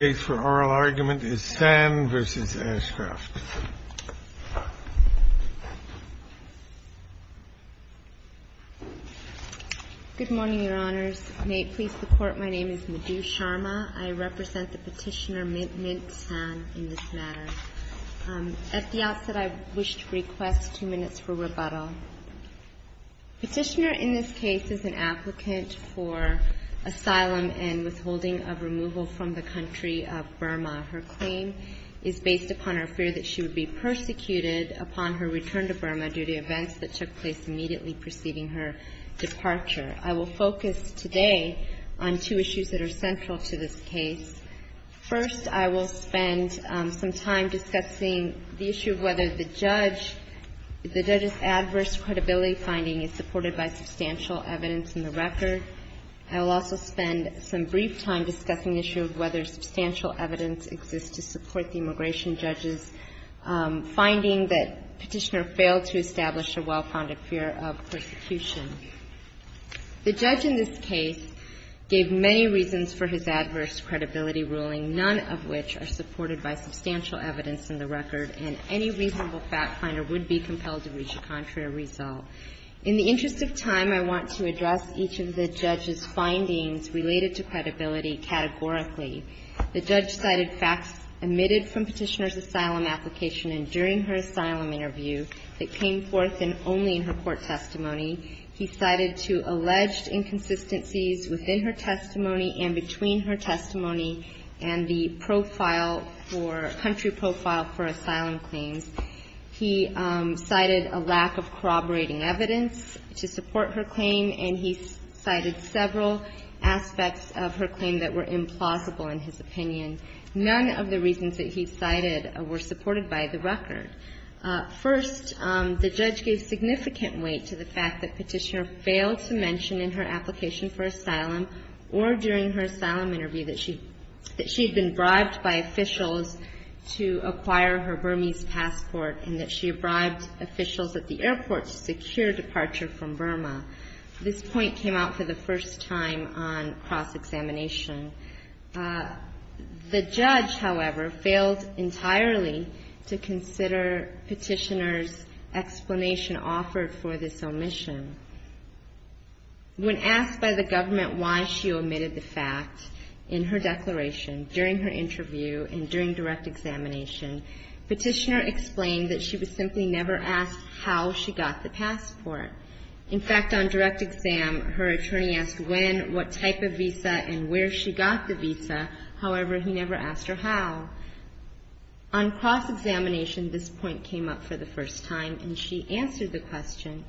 Good morning, Your Honors. May it please the Court, my name is Madhu Sharma. I represent the petitioner Mint San in this matter. At the outset, I wish to request two minutes for rebuttal. Petitioner in this case is an applicant for asylum and withholding of removal from the country of Burma. Her claim is based upon her fear that she would be persecuted upon her return to Burma due to events that took place immediately preceding her departure. I will focus today on two issues that are central to this case. First, I will spend some time discussing the issue of whether the judge's adverse credibility finding is supported by substantial evidence in the record. I will also spend some brief time discussing the issue of whether substantial evidence exists to support the immigration judge's finding that Petitioner failed to establish a well-founded fear of persecution. The judge in this case gave many reasons for his adverse credibility ruling, none of which are supported by substantial evidence in the record, and any reasonable fact-finder would be compelled to reach a contrary result. In the interest of time, I want to address each of the judge's findings related to credibility, categorically. The judge cited facts emitted from Petitioner's asylum application and during her asylum interview that came forth only in her court testimony. He cited two alleged inconsistencies within her testimony and between her testimony and the profile for the country profile for asylum claims. He cited a lack of corroborating evidence to support her claim, and he cited several aspects of her claim that were implausible in his opinion. None of the reasons that he cited were supported by the record. First, the judge gave significant weight to the fact that Petitioner failed to mention in her application for asylum or during her asylum interview that she had been bribed by officials to acquire her Burmese passport and that she had bribed officials at the airport to secure departure from Burma. This point came out for the same reason. The judge, however, failed entirely to consider Petitioner's explanation offered for this omission. When asked by the government why she omitted the fact in her declaration during her interview and during direct examination, Petitioner explained that she was simply never asked how she got the passport. In fact, on direct exam, her passport was not the visa. However, he never asked her how. On cross-examination, this point came up for the first time, and she answered the question.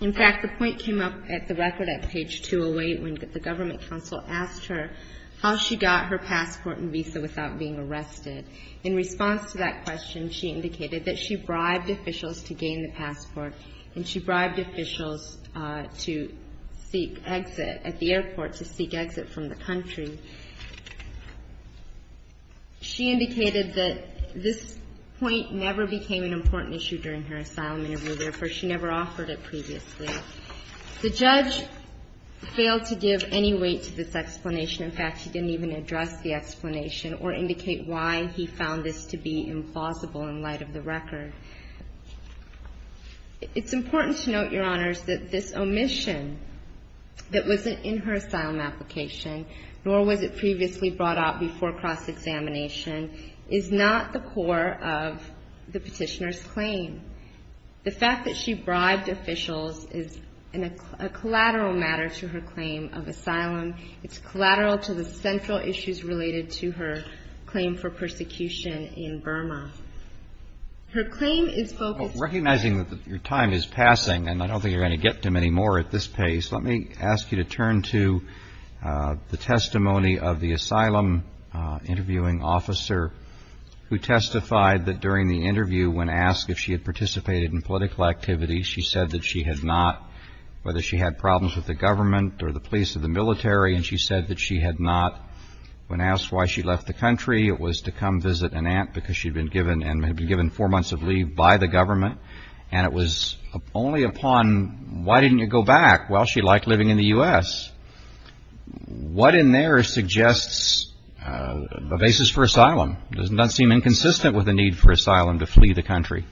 In fact, the point came up at the record at page 208 when the government counsel asked her how she got her passport and visa without being arrested. In response to that question, she indicated that she bribed officials to gain the passport, and she bribed officials to seek exit at the airport. She indicated that this point never became an important issue during her asylum interview. Therefore, she never offered it previously. The judge failed to give any weight to this explanation. In fact, he didn't even address the explanation or indicate why he found this to be implausible in light of the record. It's important to note, Your Honors, that this omission that wasn't in her asylum application, nor was it previously brought out before cross-examination, is not the core of the Petitioner's claim. The fact that she bribed officials is a collateral matter to her claim of asylum. It's collateral to the central issues related to her claim for persecution in Burma. Her claim is focused on the fact that she bribed officials to seek exit at the airport. The testimony of the asylum interviewing officer who testified that during the interview, when asked if she had participated in political activity, she said that she had not, whether she had problems with the government or the police or the military, and she said that she had not. When asked why she left the country, it was to come visit an aunt, because she had been given four months of leave by the government. And it was only upon, why didn't you go back? Well, she liked living in the U.S. What in there suggests a basis for asylum? Does it not seem inconsistent with the need for asylum to flee the country?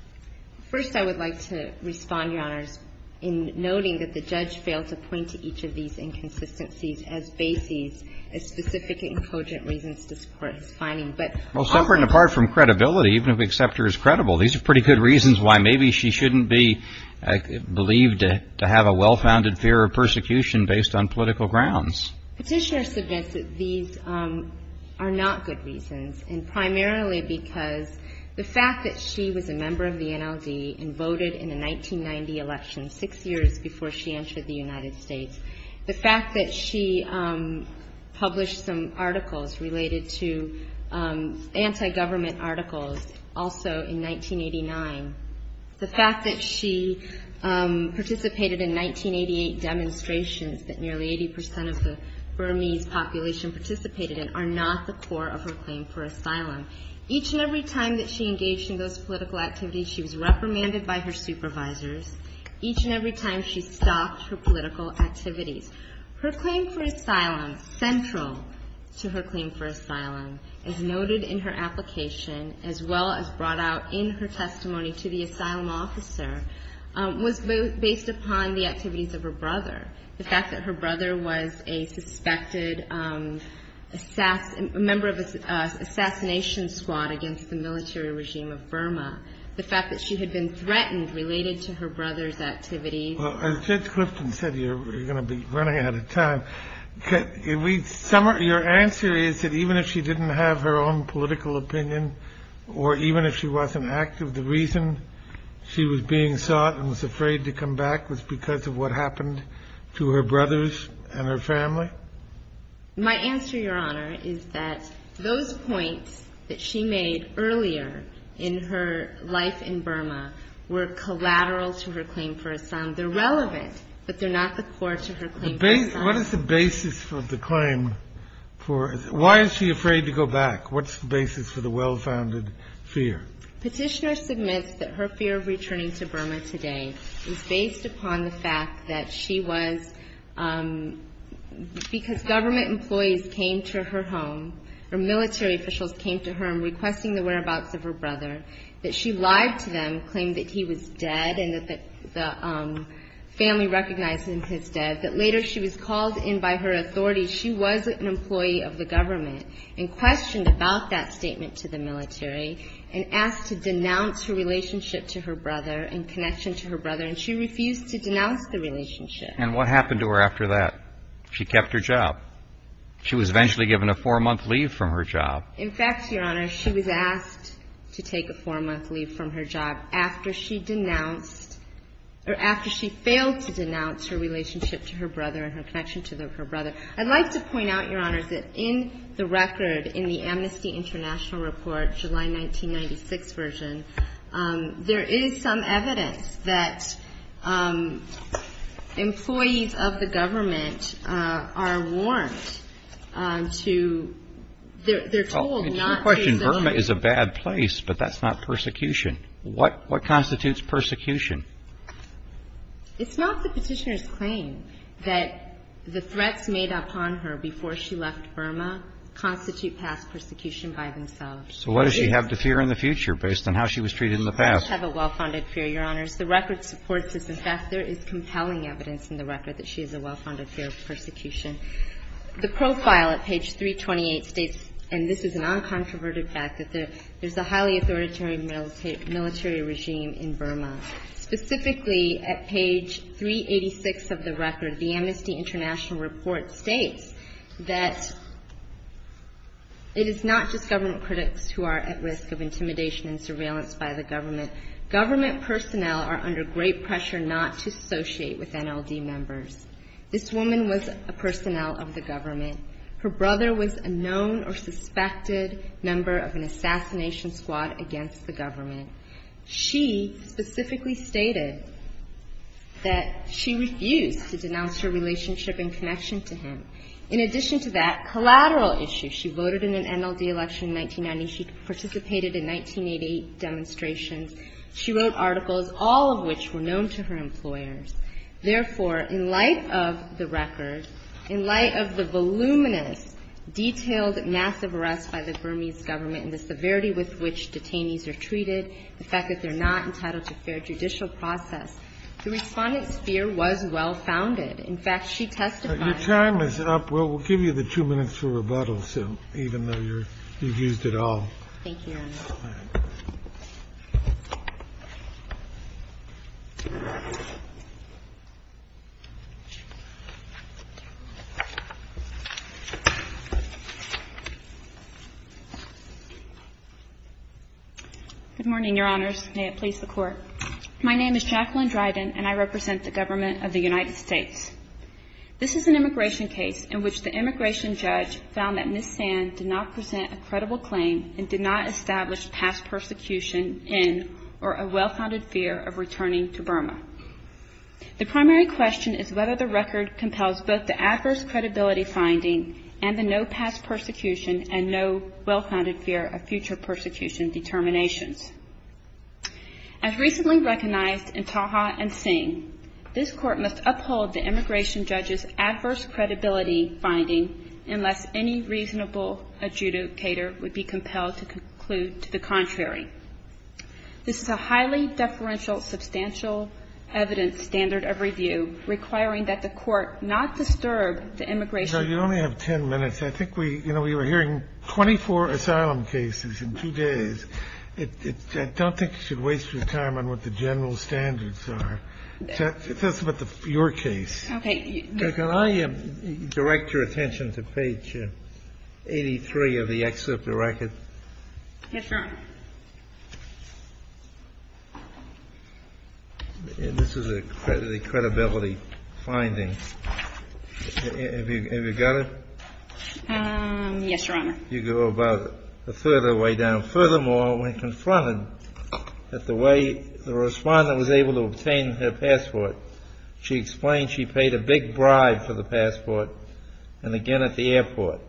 First, I would like to respond, Your Honors, in noting that the judge failed to point to each of these inconsistencies as basis, as specific and cogent reasons to support his finding, but often... Well, separate and apart from credibility, even if we accept her as credible, these are well-founded fear of persecution based on political grounds. Petitioner suggests that these are not good reasons, and primarily because the fact that she was a member of the NLD and voted in the 1990 election, six years before she entered the United States, the fact that she published some articles related to anti-government articles also in 1989, the fact that she participated in 1988 demonstrations that nearly 80% of the Burmese population participated in, are not the core of her claim for asylum. Each and every time that she engaged in those political activities, she was reprimanded by her supervisors. Each and every time, she stopped her political activities. Her claim for asylum, central to her claim for asylum, as noted in her application, as well as brought out in her testimony to the asylum officer, was based upon the activities of her brother, the fact that her brother was a suspected member of an assassination squad against the military regime of Burma, the fact that she had been threatened related to her brother's activities. Well, as Judge Clifton said, you're going to be running out of time. Your answer is that even if she didn't have her own political opinion, or even if she wasn't active, the reason she was being sought and was afraid to come back was because of what happened to her brothers and her family? My answer, Your Honor, is that those points that she made earlier in her life in Burma were collateral to her claim for asylum. They're relevant, but they're not the core to her claim for asylum. What is the basis of the claim? Why is she afraid to go back? What's the basis for the well-founded fear? Petitioner submits that her fear of returning to Burma today is based upon the fact that she was, because government employees came to her home, or military officials came to her home, requesting the whereabouts of her brother, that she lied to them, claimed that he was dead and that the family recognized him as dead, that later she was called in by her authorities. She was an employee of the government and questioned about that statement to the military and asked to denounce her relationship to her brother and connection to her brother, and she refused to denounce the relationship. And what happened to her after that? She kept her job. She was eventually given a four-month leave from her job. In fact, Your Honor, she was asked to take a four-month leave from her job after she denounced, or after she failed to denounce her relationship to her brother and her connection to her brother. I'd like to point out, Your Honor, that in the record, in the Amnesty International Report, July 1996 version, there is some evidence that employees of the government are warned to – they're told to keep their job. Well, your question, Burma is a bad place, but that's not persecution. What constitutes persecution? It's not the petitioner's claim that the threats made upon her before she left Burma constitute past persecution by themselves. So what does she have to fear in the future based on how she was treated in the past? She does have a well-founded fear, Your Honors. The record supports this. In fact, there is compelling evidence in the record that she has a well-founded fear of persecution. The profile at page 328 states – and this is a non-controverted fact – that there is a highly authoritarian military regime in Burma. Specifically, at page 386 of the record, the Amnesty International Report states that it is not just government critics who are at risk of intimidation and surveillance by the government. Government personnel are under great pressure not to associate with NLD members. This woman was a personnel of the government. Her brother was a known or suspected number of an assassination squad against the government. She specifically stated that she refused to denounce her relationship and connection to him. In addition to that collateral issue, she voted in an NLD election in 1990. She participated in 1988 demonstrations. She wrote articles, all of which were known to her employers. Therefore, in light of the record, in light of the voluminous, detailed, massive arrests by the Burmese government and the severity with which detainees are treated, the fact that they're not entitled to fair judicial process, the Respondent's fear was well-founded. In fact, she testified – Your time is up. We'll give you the two minutes for rebuttal, even though you've used it all. Thank you, Your Honor. Good morning, Your Honors. May it please the Court. My name is Jacqueline Dryden, and I represent the government of the United States. This is an immigration case in which the immigration judge found that Ms. Sand did not present a credible claim and did not establish past persecution in or a well-founded fear of returning to Burma. The primary question is whether the record compels both the adverse credibility finding and the no past persecution and no well-founded fear of future persecution determinations. As recently recognized in Taha and Singh, this Court must uphold the immigration judge's adverse credibility finding unless any reasonable adjudicator would be compelled to conclude to the contrary. This is a highly deferential substantial evidence standard of review requiring that the Court not disturb the immigration – No, you only have 10 minutes. I think we – you know, we were hearing 24 asylum cases in two days. I don't think you should waste your time on what the general standards are. Tell us about your case. Okay. Can I direct your attention to page 83 of the excerpt of the record? Yes, Your Honor. This is a credibility finding. Have you got it? Yes, Your Honor. You go about a third of the way down. Furthermore, when confronted that the way the respondent was able to obtain her passport, she explained she paid a big bribe for the passport and again at the airport.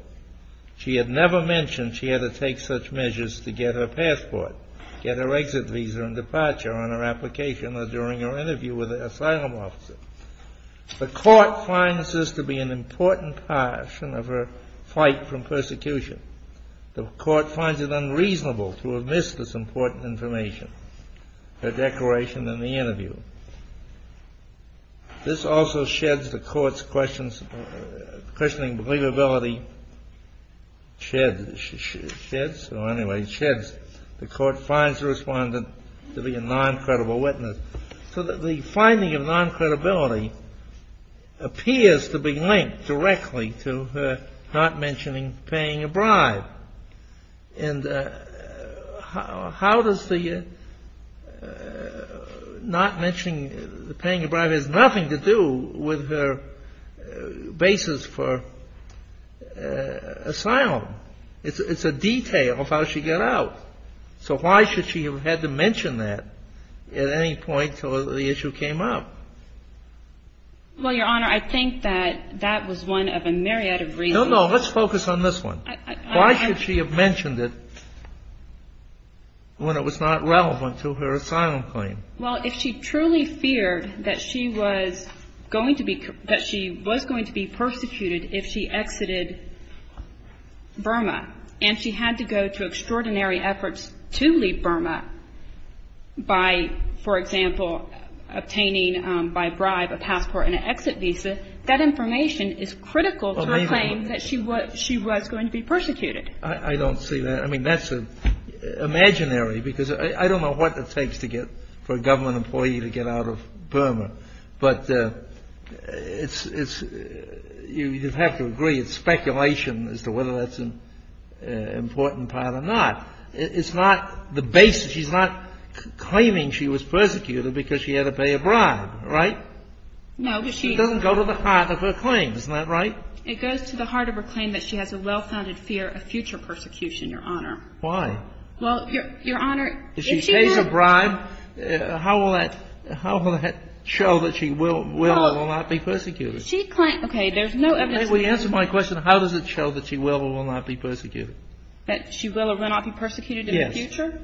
She had never mentioned she had to take such measures to get her passport, get her exit visa and departure on her application or during her interview with an asylum officer. The Court finds this to be an important part of her fight from persecution. The Court finds it unreasonable to miss this important information, her declaration and the interview. This also sheds the Court's questioning believability – sheds, or anyway, sheds. The Court finds the respondent to be a non-credible witness. So the finding of non-credibility appears to be linked directly to her not mentioning paying a bribe. And how does the not mentioning paying a bribe has nothing to do with her basis for asylum? It's a detail of how she got out. So why should she have had to mention that at any point until the issue came up? Well, Your Honor, I think that that was one of a myriad of reasons. No, no. Let's focus on this one. Why should she have mentioned it when it was not relevant to her asylum claim? Well, if she truly feared that she was going to be – that she was going to be persecuted if she exited Burma and she had to go to extraordinary efforts to leave Burma by, for example, obtaining by bribe a passport and an exit visa, that information is critical to her claim that she was going to be persecuted. I don't see that. I mean, that's imaginary because I don't know what it takes to get for a government employee to get out of Burma. But it's – you have to agree it's a case. She's not claiming she was persecuted because she had to pay a bribe, right? No, she – It doesn't go to the heart of her claim. Isn't that right? It goes to the heart of her claim that she has a well-founded fear of future persecution, Your Honor. Why? Well, Your Honor, if she has – If she pays a bribe, how will that – how will that show that she will or will not be persecuted? Well, she – okay. There's no evidence – May we answer my question? How does it show that she will or will not be persecuted? That she will or will not be persecuted in the future?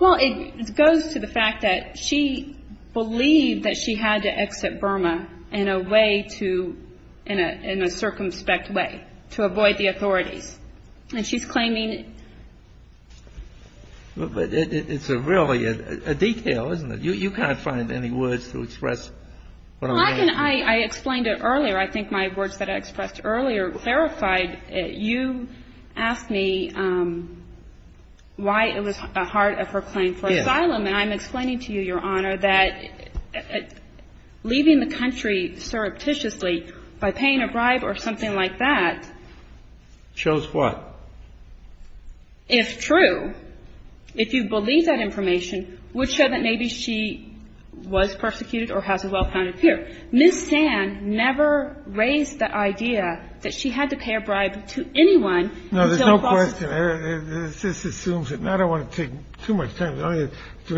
Well, it goes to the fact that she believed that she had to exit Burma in a way to – in a circumspect way to avoid the authorities. And she's claiming – But it's really a detail, isn't it? You can't find any words to express what I'm saying. Well, I can – I explained it earlier. I think my words that I expressed earlier clarified it. You asked me why it was a heart of her claim for asylum. Yes. And I'm explaining to you, Your Honor, that leaving the country surreptitiously by paying a bribe or something like that – Shows what? If true, if you believe that information, would show that maybe she was persecuted or has a well-founded fear. Ms. Sand never raised the idea that she had to pay a bribe to anyone until – No, there's no question. This assumes that – and I don't want to take too much time. Let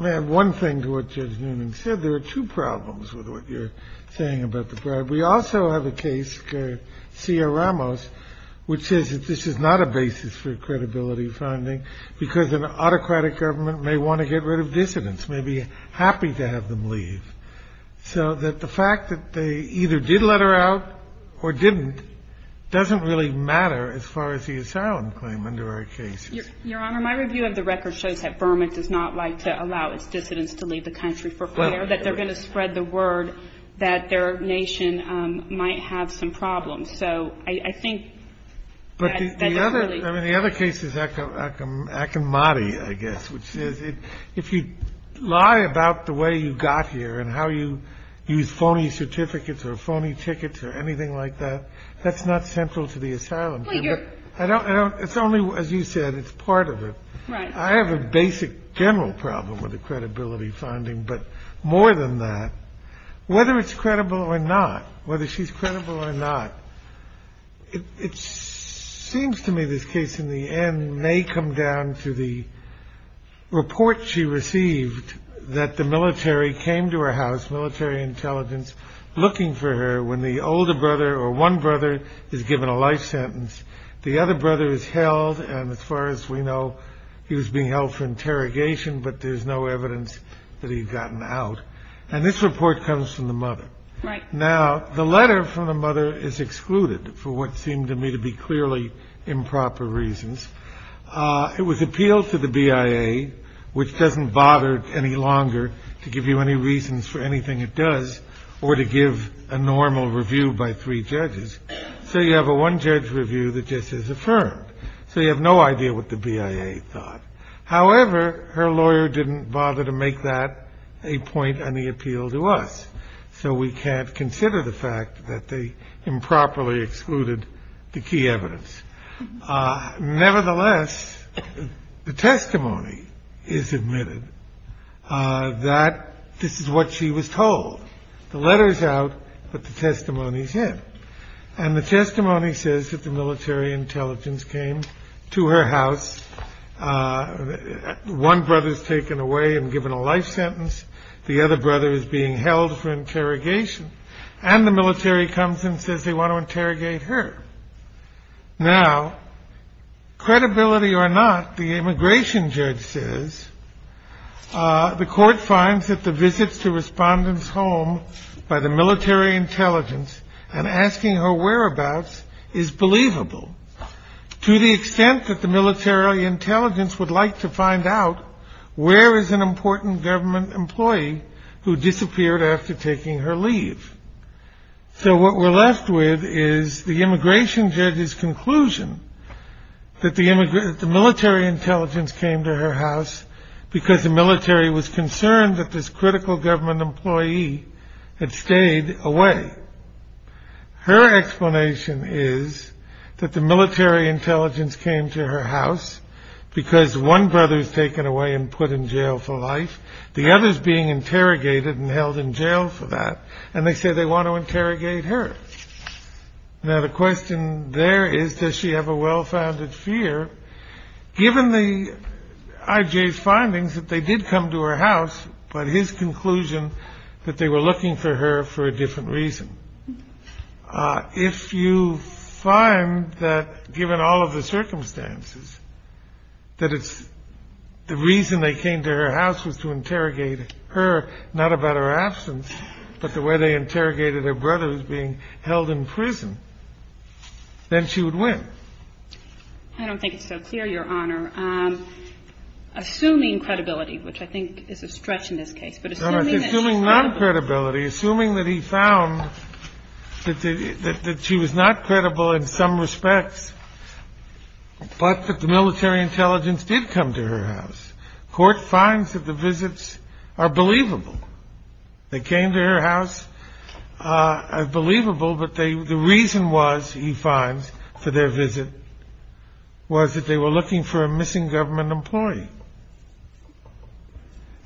me add one thing to what Judge Noonan said. There are two problems with what you're saying about the bribe. We also have a case, C.R. Ramos, which says that this is not a basis for credibility finding because an autocratic government may want to get rid of dissidents, may be happy to have them leave. So that the fact that they either did let her out or didn't doesn't really matter as far as the asylum claim under our cases. Your Honor, my review of the record shows that Burma does not like to allow its dissidents to leave the country for fear that they're going to spread the word that their nation might have some problems. So I think that it's really – I mean, the other case is Akinmati, I guess, which says if you lie about the way you got here and how you use phony certificates or phony tickets or anything like that, that's not central to the asylum. But you're – I don't – it's only, as you said, it's part of it. Right. I have a basic general problem with the credibility finding, but more than that, whether it's credible or not, whether she's credible or not, it seems to me this case, in the end, may come down to the report she received that the military came to her house, military intelligence, looking for her when the older brother or one brother is given a life sentence. The other brother is held, and as far as we know, he was being held for interrogation, but there's no evidence that he'd gotten out. And this report comes from the mother. Right. Now, the letter from the mother is excluded for what seemed to me to be clearly improper reasons. It was appealed to the BIA, which doesn't bother any longer to give you any reasons for anything it does or to give a normal review by three judges. So you have a one-judge review that just is affirmed. So you have no idea what the BIA thought. However, her lawyer didn't bother to make that a point on the appeal to us. So we can't consider the fact that they improperly excluded the key evidence. Nevertheless, the testimony is admitted that this is what she was told. The letter is out, but the testimony is in. And the testimony says that the military intelligence came to her house. One brother is taken away and given a life sentence. The other brother is being held for interrogation. And the military comes and says they want to interrogate her. Now, credibility or not, the immigration judge says, the court finds that the visits to respondent's home by the military intelligence and asking her whereabouts is believable to the extent that the military intelligence would like to find out where is an important government employee who disappeared after taking her leave. So what we're left with is the immigration judge's conclusion that the military intelligence came to her house because the military was concerned that this critical government employee had stayed away. Her explanation is that the military intelligence came to her house because one brother is taken away and put in jail for life. The other is being interrogated and held in jail for that. And they say they want to interrogate her. Now, the question there is, does she have a well-founded fear, given the IJ's findings that they did come to her house, but his conclusion that they were looking for her for a different reason? If you find that, given all of the circumstances, that it's the reason they came to her house was to interrogate her, not about her absence, but the way they interrogated her brother who's being held in prison, then she would win. I don't think it's so clear, Your Honor. Assuming credibility, which I think is a stretch in this case. Assuming non-credibility, assuming that he found that she was not credible in some respects, but that the military intelligence did come to her house. Court finds that the visits are believable. They came to her house, are believable, but the reason was, he finds, for their visit, was that they were looking for a missing government employee.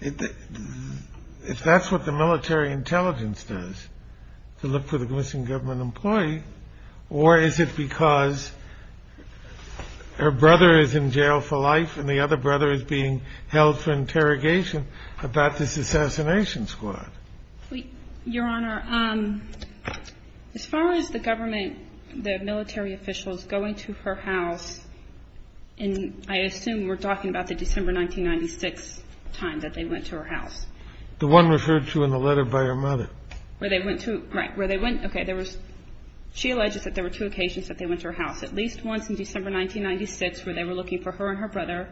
If that's what the military intelligence does, to look for the missing government employee, or is it because her brother is in jail for life and the other brother is being held for interrogation about this assassination squad? Your Honor, as far as the government, the military officials going to her house, and I assume we're talking about the December 1996 time that they went to her house. The one referred to in the letter by her mother. Right, where they went, okay, she alleges that there were two occasions that they went to her house. At least once in December 1996, where they were looking for her and her brother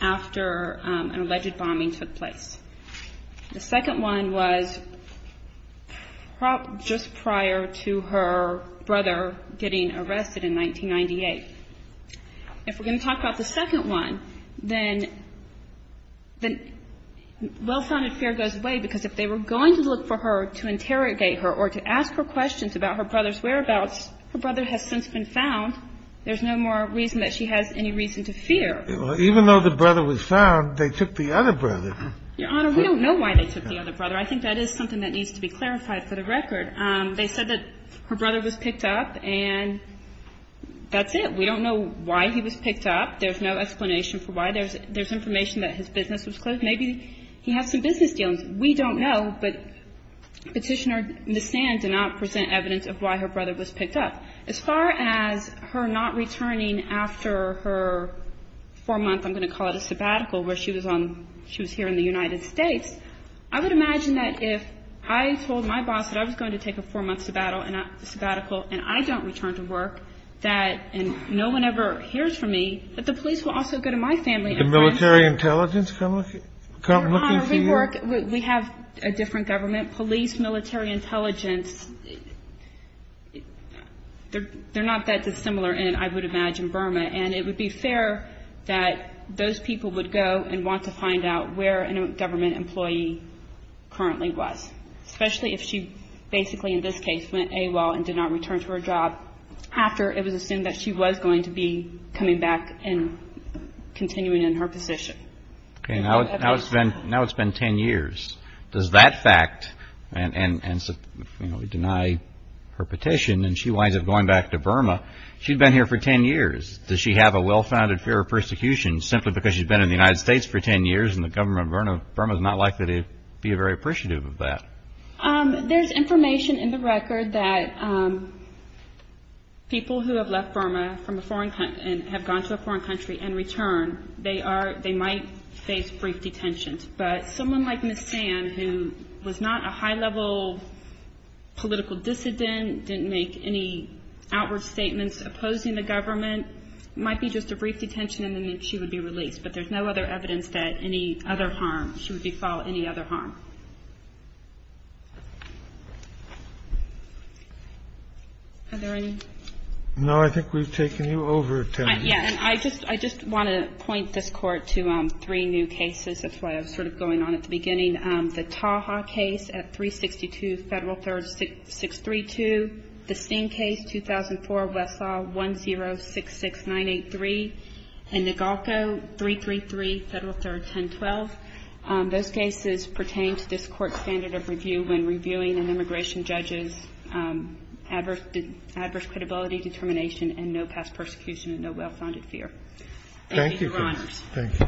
after an alleged bombing took place. The second one was just prior to her brother getting arrested in 1998. If we're going to talk about the second one, then well-founded fear goes away because if they were going to look for her to interrogate her or to ask her questions about her brother's whereabouts, her brother has since been found. There's no more reason that she has any reason to fear. Even though the brother was found, they took the other brother. Your Honor, we don't know why they took the other brother. I think that is something that needs to be clarified for the record. They said that her brother was picked up and that's it. We don't know why he was picked up. There's no explanation for why. There's information that his business was closed. Maybe he has some business dealings. We don't know, but Petitioner Nissan did not present evidence of why her brother was picked up. As far as her not returning after her four-month, I'm going to call it a sabbatical, where she was here in the United States, I would imagine that if I told my boss that I was going to take a four-month sabbatical and I don't return to work and no one ever hears from me, that the police will also go to my family and friends. The military intelligence come looking for you? Your Honor, we have a different government. Police, military intelligence, they're not that dissimilar in, I would imagine, Burma. And it would be fair that those people would go and want to find out where a government employee currently was, especially if she basically, in this case, went AWOL and did not return to her job after it was assumed that she was going to be coming back and continuing in her position. Okay, now it's been ten years. Does that fact, and we deny her petition and she winds up going back to Burma, she'd been here for ten years. Does she have a well-founded fear of persecution simply because she's been in the United States for ten years and the government of Burma is not likely to be very appreciative of that? There's information in the record that people who have left Burma and have gone to a foreign country and returned, they might face brief detention. But someone like Ms. Sand, who was not a high-level political dissident, didn't make any outward statements opposing the government, might be just a brief detention and then she would be released. But there's no other evidence that any other harm, she would befall any other harm. Are there any? No, I think we've taken you over, Tenney. Yes. I just want to point this Court to three new cases. That's why I was sort of going on at the beginning. The Taha case at 362 Federal Third 632. The Singh case, 2004, Westlaw 1066983. And Negalko, 333 Federal Third 1012. Those cases pertain to this Court's standard of review when reviewing an immigration judge's adverse credibility, determination, and no past persecution and no well-founded fear. Thank you, Your Honors. Thank you.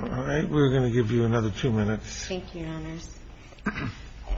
All right. We're going to give you another two minutes. Thank you, Your Honors.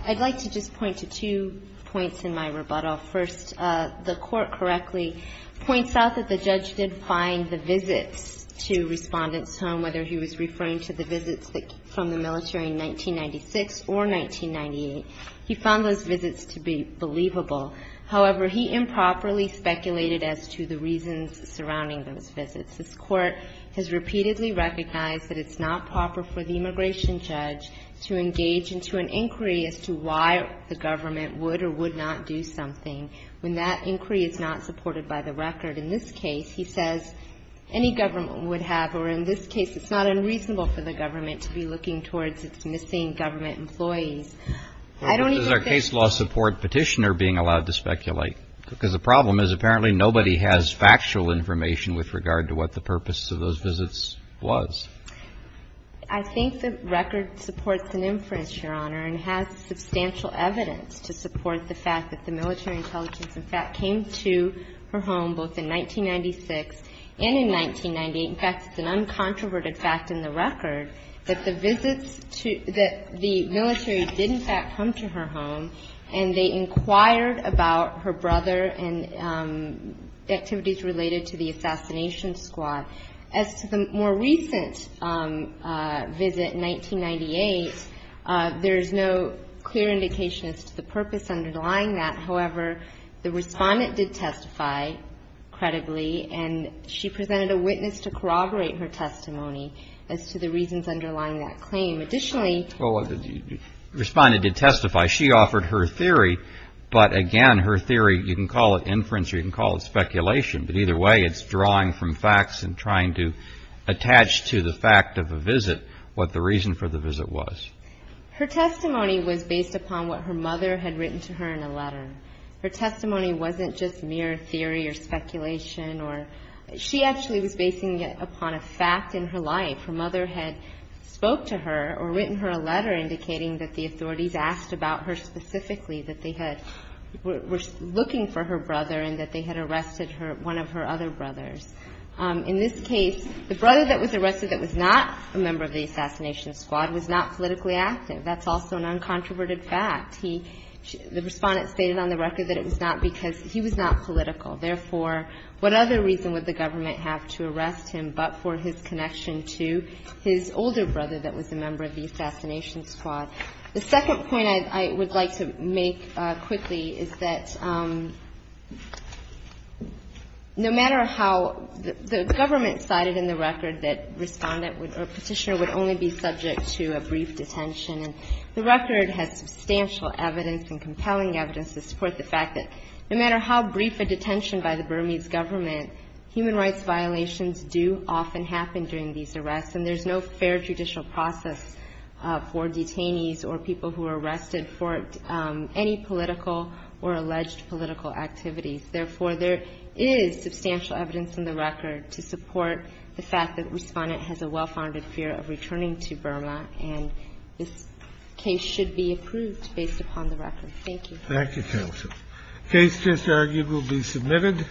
I'd like to just point to two points in my rebuttal. First, the Court correctly points out that the judge did find the visits to Respondent's home, whether he was referring to the visits from the military in 1996 or 1998. He found those visits to be believable. However, he improperly speculated as to the reasons surrounding those visits. This Court has repeatedly recognized that it's not proper for the immigration judge to engage into an inquiry as to why the government would or would not do something when that inquiry is not supported by the record. In this case, he says any government would have, or in this case, it's not unreasonable for the government to be looking towards its missing government employees. I don't even think that's true. Why is our case law support petitioner being allowed to speculate? Because the problem is apparently nobody has factual information with regard to what the purpose of those visits was. I think the record supports an inference, Your Honor, and has substantial evidence to support the fact that the military intelligence, in fact, came to her home both in 1996 and in 1998. In fact, it's an uncontroverted fact in the record that the visits to the military did in fact come to her home, and they inquired about her brother and activities related to the assassination squad. As to the more recent visit in 1998, there is no clear indication as to the purpose underlying that. However, the respondent did testify, credibly, and she presented a witness to corroborate her testimony as to the reasons underlying that claim. Additionally... Well, the respondent did testify. She offered her theory, but again, her theory, you can call it inference or you can call it speculation, but either way, it's drawing from facts and trying to attach to the fact of a visit what the reason for the visit was. Her testimony was based upon what her mother had written to her in a letter. Her testimony wasn't just mere theory or speculation. She actually was basing it upon a fact in her life. Her mother had spoke to her or written her a letter indicating that the authorities asked about her specifically, that they were looking for her brother and that they had arrested one of her other brothers. In this case, the brother that was arrested that was not a member of the assassination squad was not politically active. That's also an uncontroverted fact. He – the respondent stated on the record that it was not because he was not political. Therefore, what other reason would the government have to arrest him but for his connection to his older brother that was a member of the assassination squad? The second point I would like to make quickly is that no matter how the government cited in the record that respondent or petitioner would only be subject to a brief detention, the record has substantial evidence and compelling evidence to support the fact that no matter how brief a detention by the Burmese government, human rights violations do often happen during these arrests, and there's no fair judicial process for detainees or people who are arrested for any political or alleged political activities. Therefore, there is substantial evidence in the record to support the fact that the respondent has a well-founded fear of returning to Burma, and this case should be approved based upon the record. Thank you. Thank you, counsel. Case just argued will be submitted.